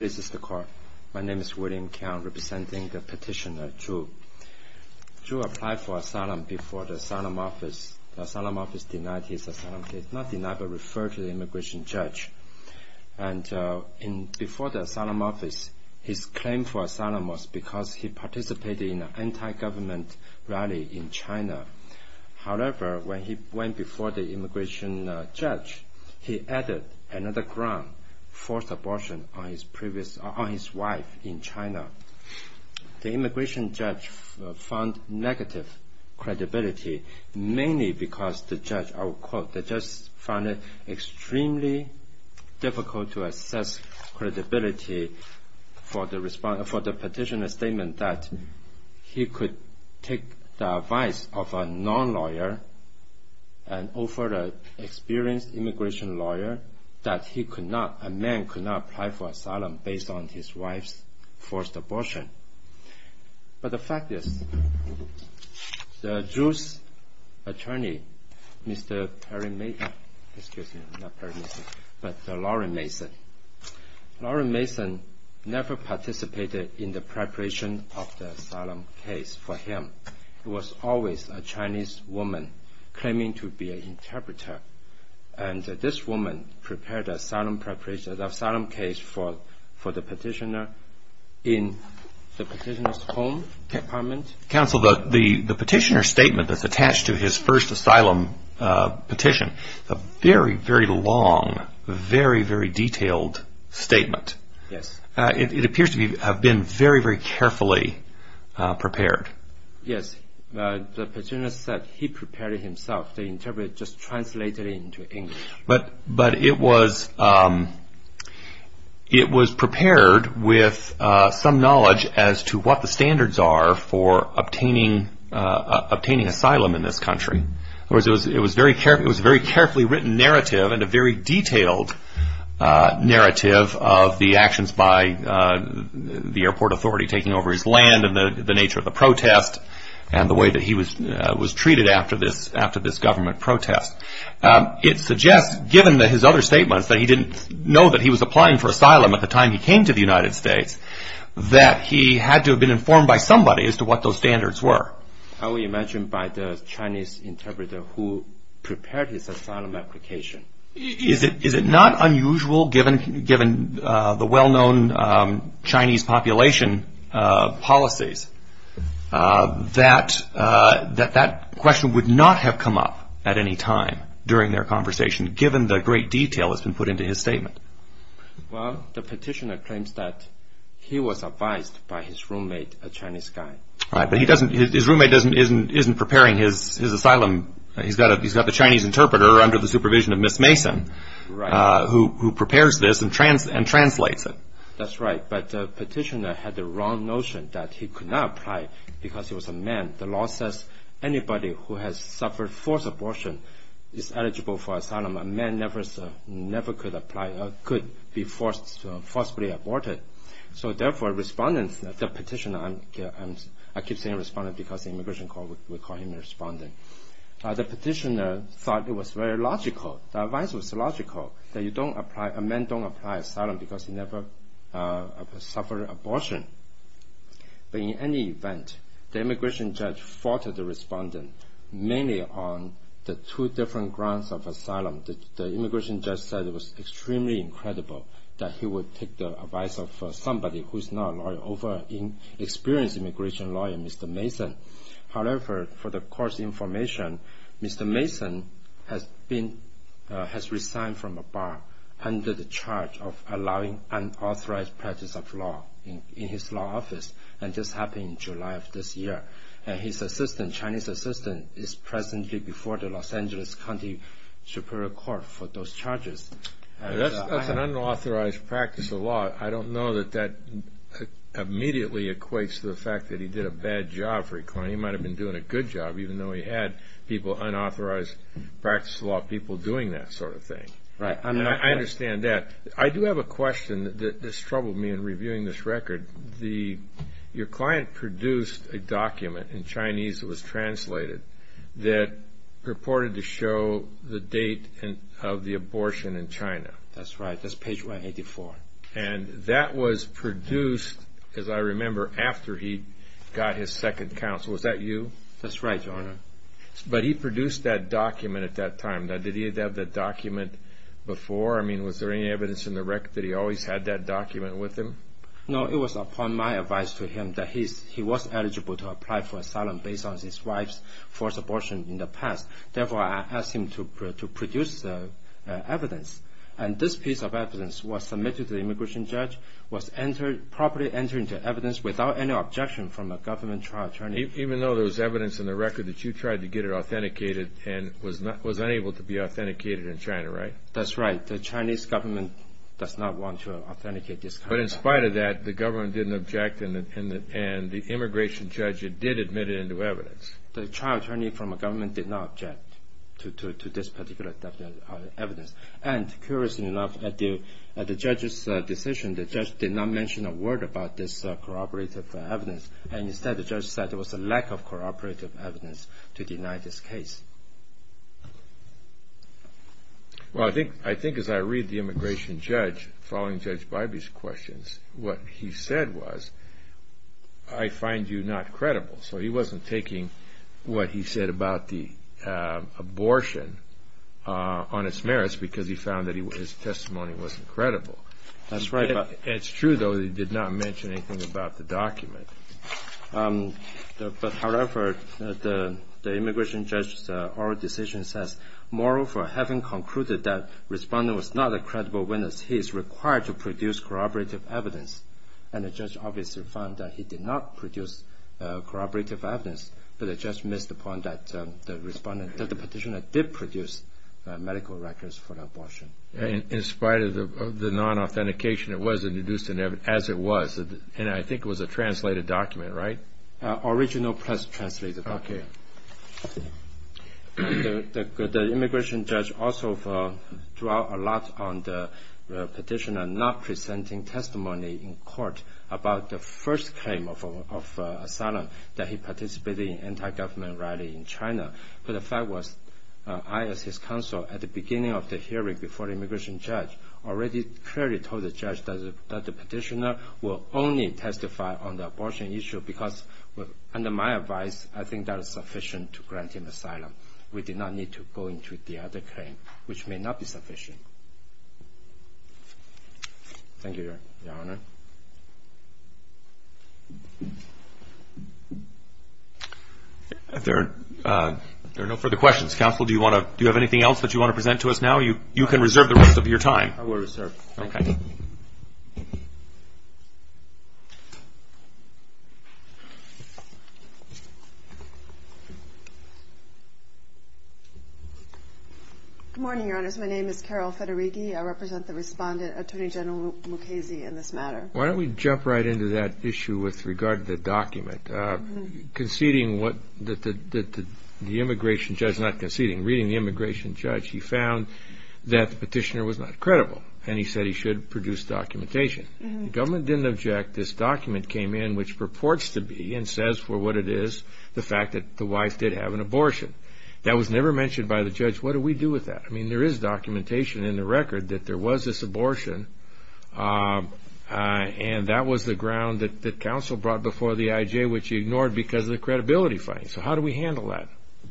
This is the court. My name is William Keong, representing the petitioner, Zhu. Zhu applied for asylum before the asylum office. The asylum office denied his asylum case. Not denied, but referred to the immigration judge. And before the asylum office, his claim for asylum was because he participated in an anti-government rally in China. However, when he went before the immigration judge, he added another ground, forced abortion on his wife in China. The immigration judge found negative credibility, mainly because the judge found it extremely difficult to assess credibility for the petitioner's statement that he could take the advice of a non-lawyer, an over-experienced immigration lawyer, that a man could not apply for asylum based on his wife's forced abortion. But the fact is, Zhu's attorney, Mr. Perry Mason, excuse me, not Perry Mason, but Lauren Mason, Lauren Mason never participated in the preparation of the asylum case for him. It was always a Chinese woman claiming to be an interpreter. And this woman prepared the asylum case for the petitioner in the petitioner's home department. Counsel, the petitioner's statement that's attached to his first asylum petition, a very, very long, very, very detailed statement. Yes. It appears to have been very, very carefully prepared. Yes. The petitioner said he prepared it himself. The interpreter just translated it into English. But it was prepared with some knowledge as to what the standards are for obtaining asylum in this country. It was a very carefully written narrative and a very detailed narrative of the actions by the airport authority taking over his land and the nature of the protest and the way that he was treated after this government protest. It suggests, given his other statements, that he didn't know that he was applying for asylum at the time he came to the United States, that he had to have been informed by somebody as to what those standards were. I would imagine by the Chinese interpreter who prepared his asylum application. Is it not unusual, given the well-known Chinese population policies, that that question would not have come up at any time during their conversation, given the great detail that's been put into his statement? Well, the petitioner claims that he was advised by his roommate, a Chinese guy. Right, but his roommate isn't preparing his asylum. He's got the Chinese interpreter under the supervision of Miss Mason who prepares this and translates it. That's right, but the petitioner had the wrong notion that he could not apply because he was a man. The law says anybody who has suffered forced abortion is eligible for asylum. A man never could be forcibly aborted. So, therefore, respondents, the petitioner, I keep saying respondent because the immigration court would call him a respondent. The petitioner thought it was very logical, the advice was logical, that a man don't apply asylum because he never suffered abortion. But in any event, the immigration judge faulted the respondent, mainly on the two different grounds of asylum. The immigration judge said it was extremely incredible that he would take the advice of somebody who's not a lawyer, over an experienced immigration lawyer, Mr. Mason. However, for the court's information, Mr. Mason has resigned from the bar under the charge of allowing unauthorized practice of law in his law office, and this happened in July of this year. His Chinese assistant is presently before the Los Angeles County Superior Court for those charges. I don't know that that immediately equates to the fact that he did a bad job for the county. He might have been doing a good job, even though he had people, unauthorized practice of law people, doing that sort of thing. I understand that. I do have a question that has troubled me in reviewing this record. Your client produced a document in Chinese that was translated that purported to show the date of the abortion in China. That's right. That's page 184. And that was produced, as I remember, after he got his second counsel. Was that you? That's right, Your Honor. But he produced that document at that time. Did he have that document before? I mean, was there any evidence in the record that he always had that document with him? No, it was upon my advice to him that he was eligible to apply for asylum based on his wife's forced abortion in the past. Therefore, I asked him to produce the evidence. And this piece of evidence was submitted to the immigration judge, was properly entered into evidence without any objection from a government trial attorney. Even though there was evidence in the record that you tried to get it authenticated and was unable to be authenticated in China, right? That's right. The Chinese government does not want to authenticate this kind of document. But in spite of that, the government didn't object, and the immigration judge did admit it into evidence. The trial attorney from the government did not object to this particular evidence. And, curiously enough, at the judge's decision, the judge did not mention a word about this corroborative evidence, and instead the judge said there was a lack of corroborative evidence to deny this case. Well, I think as I read the immigration judge following Judge Bybee's questions, what he said was, I find you not credible. So he wasn't taking what he said about the abortion on its merits because he found that his testimony wasn't credible. That's right. It's true, though, that he did not mention anything about the document. However, the immigration judge's oral decision says, moreover, having concluded that Respondent was not a credible witness, he is required to produce corroborative evidence. And the judge obviously found that he did not produce corroborative evidence, but the judge missed the point that the Respondent, that the petitioner did produce medical records for the abortion. In spite of the non-authentication, it was introduced as it was, and I think it was a translated document, right? Original plus translated. Okay. The immigration judge also drew out a lot on the petitioner for not presenting testimony in court about the first claim of asylum that he participated in an anti-government rally in China. But the fact was, I as his counsel, at the beginning of the hearing before the immigration judge, already clearly told the judge that the petitioner will only testify on the abortion issue because under my advice, I think that is sufficient to grant him asylum. We did not need to go into the other claim, which may not be sufficient. Thank you, Your Honor. There are no further questions. Counsel, do you have anything else that you want to present to us now? You can reserve the rest of your time. I will reserve. Okay. Good morning, Your Honors. My name is Carol Federighi. I represent the respondent, Attorney General Mukasey, in this matter. Why don't we jump right into that issue with regard to the document. Conceding what the immigration judge, not conceding, reading the immigration judge, he found that the petitioner was not credible, and he said he should produce documentation. The government didn't object. This document came in, which purports to be and says for what it is, the fact that the wife did have an abortion. That was never mentioned by the judge. What do we do with that? I mean, there is documentation in the record that there was this abortion, and that was the ground that counsel brought before the IJ, which he ignored because of the credibility finding. So how do we handle that?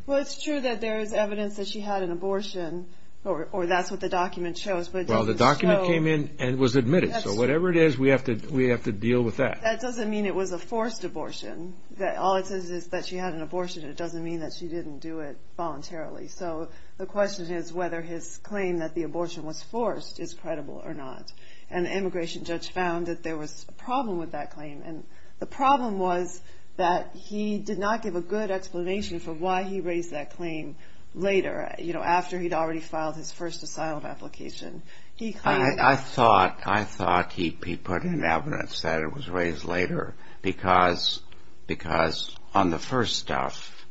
Well, it's true that there is evidence that she had an abortion, or that's what the document shows. Well, the document came in and was admitted. So whatever it is, we have to deal with that. That doesn't mean it was a forced abortion. All it says is that she had an abortion. It doesn't mean that she didn't do it voluntarily. So the question is whether his claim that the abortion was forced is credible or not. And the immigration judge found that there was a problem with that claim. And the problem was that he did not give a good explanation for why he raised that claim later, after he'd already filed his first asylum application. I thought he put in evidence that it was raised later because on the first stuff,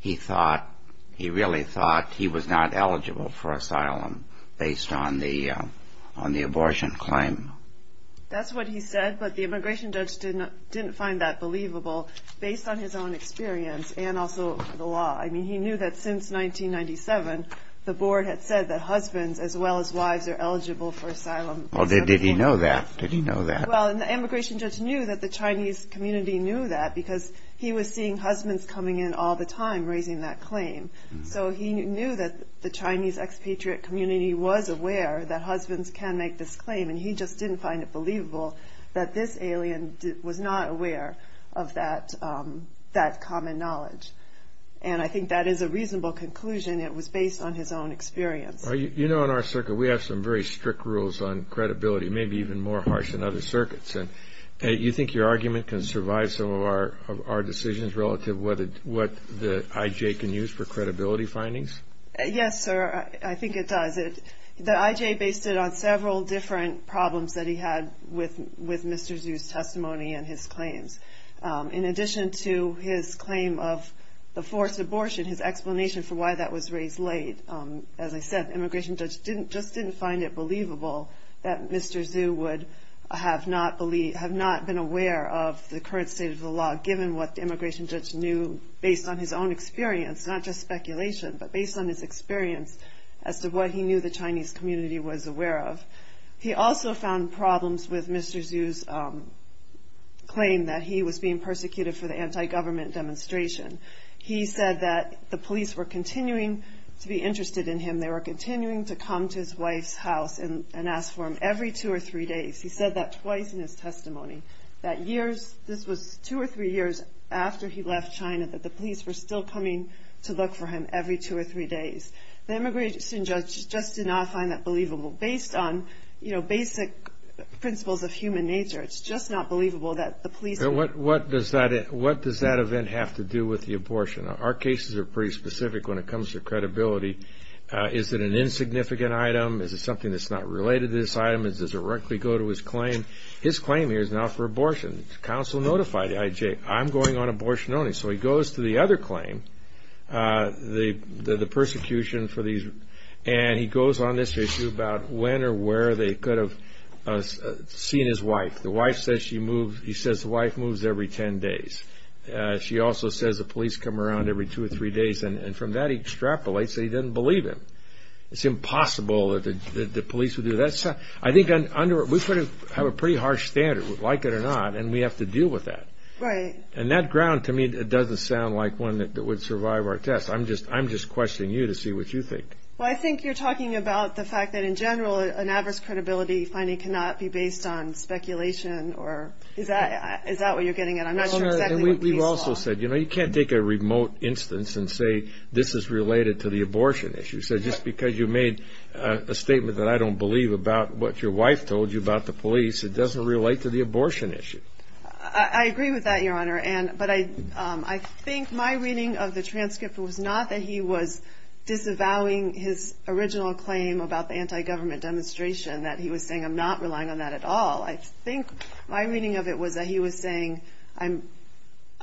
he really thought he was not eligible for asylum based on the abortion claim. That's what he said. But the immigration judge didn't find that believable based on his own experience and also the law. I mean, he knew that since 1997, the board had said that husbands as well as wives are eligible for asylum. Well, did he know that? Did he know that? Well, and the immigration judge knew that the Chinese community knew that because he was seeing husbands coming in all the time raising that claim. So he knew that the Chinese expatriate community was aware that husbands can make this claim. And he just didn't find it believable that this alien was not aware of that common knowledge. And I think that is a reasonable conclusion. It was based on his own experience. You know, in our circuit, we have some very strict rules on credibility, maybe even more harsh than other circuits. And you think your argument can survive some of our decisions relative to what the IJ can use for credibility findings? Yes, sir. I think it does. The IJ based it on several different problems that he had with Mr. Zhu's testimony and his claims. In addition to his claim of the forced abortion, his explanation for why that was raised late, as I said, the immigration judge just didn't find it believable that Mr. Zhu would have not been aware of the current state of the law given what the immigration judge knew based on his own experience, not just speculation, but based on his experience as to what he knew the Chinese community was aware of. He also found problems with Mr. Zhu's claim that he was being persecuted for the anti-government demonstration. He said that the police were continuing to be interested in him. They were continuing to come to his wife's house and ask for him every two or three days. He said that twice in his testimony, that years, this was two or three years after he left China, that the police were still coming to look for him every two or three days. The immigration judge just did not find that believable. Based on basic principles of human nature, it's just not believable that the police would... What does that event have to do with the abortion? Our cases are pretty specific when it comes to credibility. Is it an insignificant item? Is it something that's not related to this item? Does it directly go to his claim? His claim here is now for abortion. The counsel notified IJ, I'm going on abortion only. So he goes to the other claim, the persecution for these... And he goes on this issue about when or where they could have seen his wife. He says the wife moves every ten days. She also says the police come around every two or three days. And from that he extrapolates that he doesn't believe him. It's impossible that the police would do that. I think we have a pretty harsh standard, like it or not. And we have to deal with that. Right. And that ground to me doesn't sound like one that would survive our test. I'm just questioning you to see what you think. Well, I think you're talking about the fact that, in general, an adverse credibility finding cannot be based on speculation. Is that what you're getting at? I'm not sure exactly what we saw. We've also said you can't take a remote instance and say this is related to the abortion issue. So just because you made a statement that I don't believe about what your wife told you about the police, it doesn't relate to the abortion issue. I agree with that, Your Honor. But I think my reading of the transcript was not that he was disavowing his original claim about the anti-government demonstration, that he was saying I'm not relying on that at all. I think my reading of it was that he was saying I'm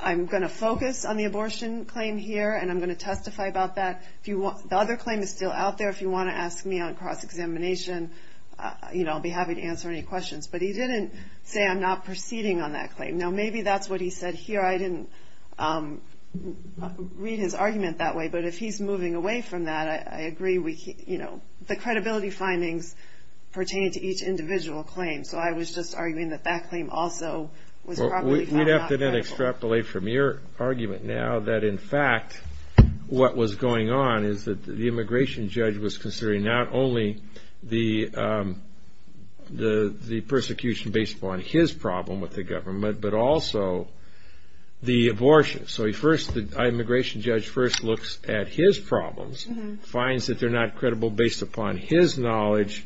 going to focus on the abortion claim here and I'm going to testify about that. The other claim is still out there. If you want to ask me on cross-examination, you know, I'll be happy to answer any questions. But he didn't say I'm not proceeding on that claim. Now, maybe that's what he said here. I didn't read his argument that way. But if he's moving away from that, I agree, you know, the credibility findings pertain to each individual claim. So I was just arguing that that claim also was probably not credible. We'd have to then extrapolate from your argument now that, in fact, what was going on is that the immigration judge was considering not only the persecution based upon his problem with the government, but also the abortion. So the immigration judge first looks at his problems, finds that they're not credible based upon his knowledge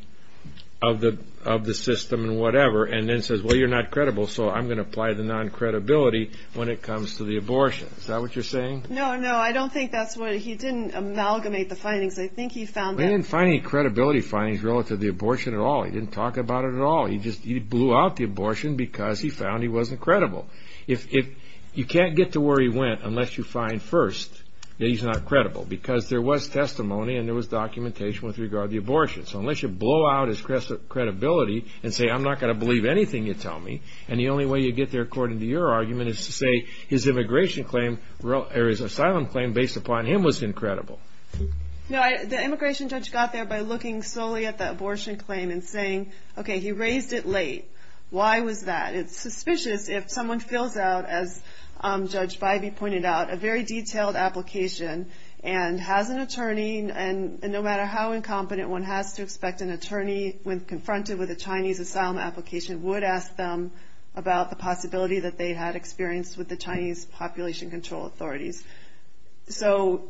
of the system and whatever, and then says, well, you're not credible, so I'm going to apply the non-credibility when it comes to the abortion. Is that what you're saying? No, no. I don't think that's what he did. He didn't amalgamate the findings. I think he found that. He didn't find any credibility findings relative to the abortion at all. He didn't talk about it at all. He just blew out the abortion because he found he wasn't credible. You can't get to where he went unless you find first that he's not credible, because there was testimony and there was documentation with regard to the abortion. So unless you blow out his credibility and say, I'm not going to believe anything you tell me, and the only way you get there, according to your argument, is to say his immigration claim or his asylum claim based upon him was incredible. No, the immigration judge got there by looking solely at the abortion claim and saying, okay, he raised it late. Why was that? It's suspicious if someone fills out, as Judge Bybee pointed out, a very detailed application and has an attorney, and no matter how incompetent one has to expect an attorney when confronted with a Chinese asylum application would ask them about the possibility that they had experience with the Chinese population control authorities. So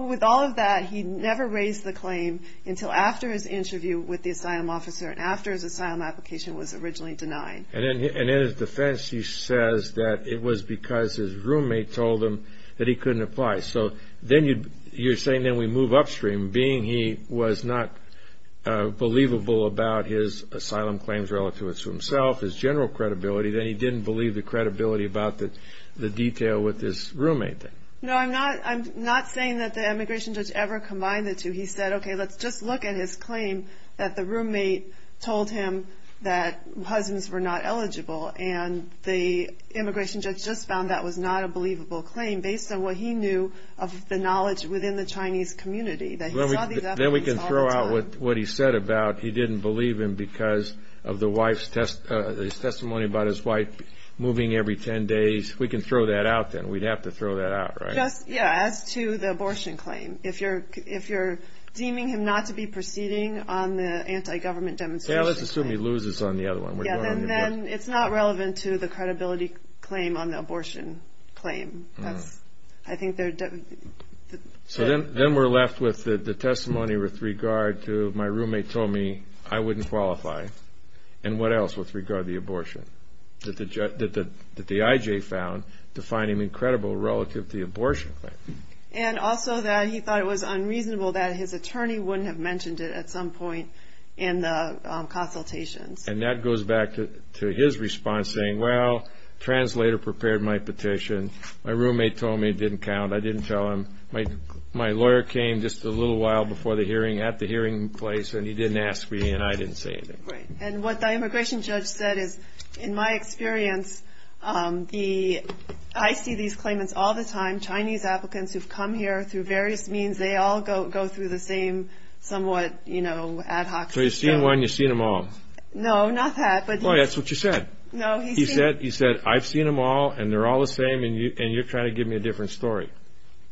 with all of that, he never raised the claim until after his interview with the asylum officer and after his asylum application was originally denied. And in his defense, he says that it was because his roommate told him that he couldn't apply. So then you're saying then we move upstream. Being he was not believable about his asylum claims relative to himself, his general credibility, then he didn't believe the credibility about the detail with his roommate. No, I'm not saying that the immigration judge ever combined the two. He said, okay, let's just look at his claim that the roommate told him that husbands were not eligible, and the immigration judge just found that was not a believable claim based on what he knew of the knowledge within the Chinese community. Then we can throw out what he said about he didn't believe him because of his testimony about his wife moving every 10 days. We can throw that out then. We'd have to throw that out, right? Yeah, as to the abortion claim. If you're deeming him not to be proceeding on the anti-government demonstration. Yeah, let's assume he loses on the other one. Yeah, then it's not relevant to the credibility claim on the abortion claim. So then we're left with the testimony with regard to my roommate told me I wouldn't qualify, and what else with regard to the abortion that the IJ found to find him incredible relative to the abortion claim. And also that he thought it was unreasonable that his attorney wouldn't have mentioned it at some point in the consultations. And that goes back to his response saying, well, translator prepared my petition. My roommate told me it didn't count. I didn't tell him. My lawyer came just a little while before the hearing at the hearing place, and he didn't ask me, and I didn't say anything. Right. And what the immigration judge said is, in my experience, I see these claimants all the time, Chinese applicants who've come here through various means. They all go through the same somewhat ad hoc. So you've seen one. You've seen them all. No, not that. Boy, that's what you said. No, he said. He said, I've seen them all, and they're all the same, and you're trying to give me a different story.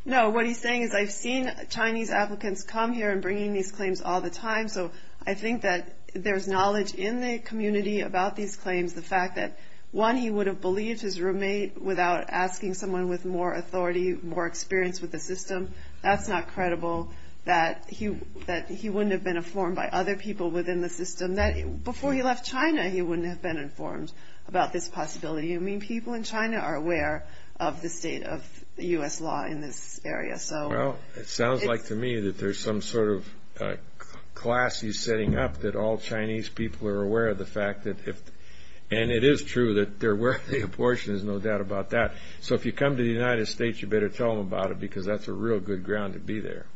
No, what he's saying is I've seen Chinese applicants come here and bringing these claims all the time, so I think that there's knowledge in the community about these claims, the fact that, one, he would have believed his roommate without asking someone with more authority, more experience with the system. That's not credible, that he wouldn't have been informed by other people within the system. Before he left China, he wouldn't have been informed about this possibility. I mean, people in China are aware of the state of U.S. law in this area. Well, it sounds like to me that there's some sort of class he's setting up, that all Chinese people are aware of the fact that if, and it is true that they're aware of the abortion, there's no doubt about that. So if you come to the United States, you better tell them about it because that's a real good ground to be there.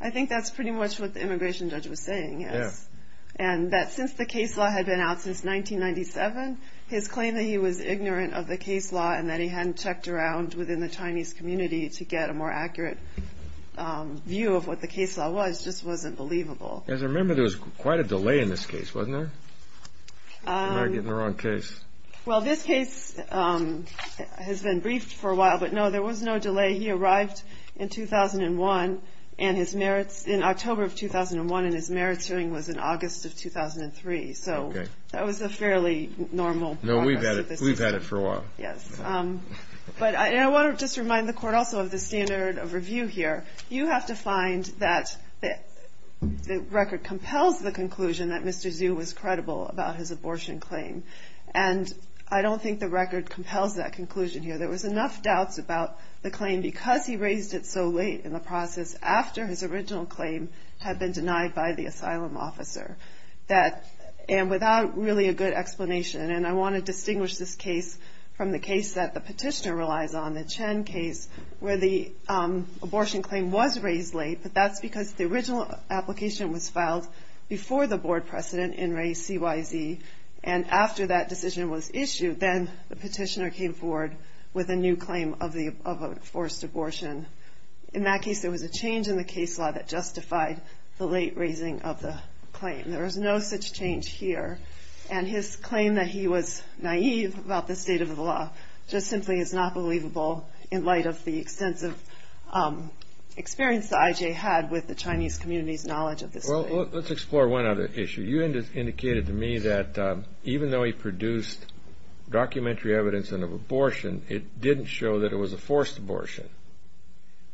I think that's pretty much what the immigration judge was saying, yes, and that since the case law had been out since 1997, his claim that he was ignorant of the case law and that he hadn't checked around within the Chinese community to get a more accurate view of what the case law was just wasn't believable. As I remember, there was quite a delay in this case, wasn't there? Am I getting the wrong case? Well, this case has been briefed for a while, but, no, there was no delay. He arrived in 2001, in October of 2001, and his merits hearing was in August of 2003. So that was a fairly normal process. No, we've had it for a while. Yes. But I want to just remind the court also of the standard of review here. You have to find that the record compels the conclusion that Mr. Zhu was credible about his abortion claim, and I don't think the record compels that conclusion here. There was enough doubts about the claim because he raised it so late in the process, after his original claim had been denied by the asylum officer, and without really a good explanation. And I want to distinguish this case from the case that the petitioner relies on, the Chen case, where the abortion claim was raised late, but that's because the original application was filed before the board precedent and raised CYZ, and after that decision was issued, then the petitioner came forward with a new claim of a forced abortion. In that case, there was a change in the case law that justified the late raising of the claim. There was no such change here, and his claim that he was naive about the state of the law just simply is not believable in light of the extensive experience that I.J. had with the Chinese community's knowledge of this case. Well, let's explore one other issue. You indicated to me that even though he produced documentary evidence of an abortion, it didn't show that it was a forced abortion.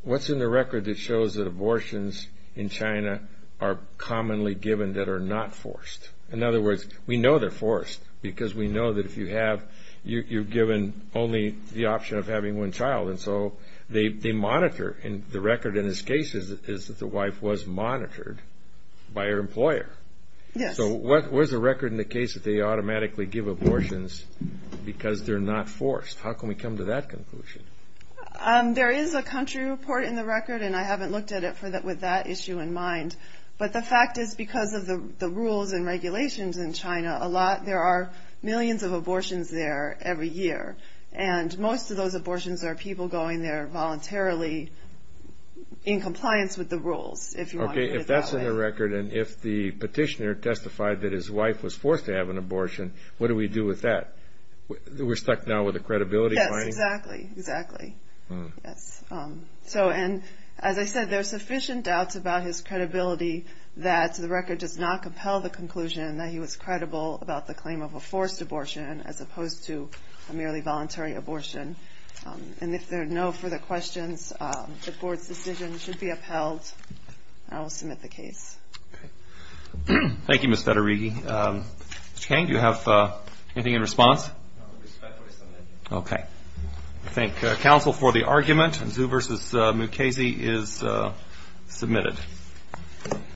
What's in the record that shows that abortions in China are commonly given that are not forced? In other words, we know they're forced because we know that if you have, you're given only the option of having one child, and so they monitor. The record in this case is that the wife was monitored by her employer. Yes. So what was the record in the case that they automatically give abortions because they're not forced? How can we come to that conclusion? There is a country report in the record, and I haven't looked at it with that issue in mind, but the fact is because of the rules and regulations in China, there are millions of abortions there every year, and most of those abortions are people going there voluntarily in compliance with the rules, if you want to put it that way. Okay. If that's in the record and if the petitioner testified that his wife was forced to have an abortion, what do we do with that? We're stuck now with a credibility claim? Yes, exactly. Exactly. Yes. And as I said, there are sufficient doubts about his credibility that the record does not compel the conclusion that he was credible about the claim of a forced abortion as opposed to a merely voluntary abortion. And if there are no further questions, the Board's decision should be upheld, and I will submit the case. Okay. Thank you, Ms. Federighi. Mr. King, do you have anything in response? I respectfully submit. Okay. I thank counsel for the argument, and Zhu v. Mukasey is submitted.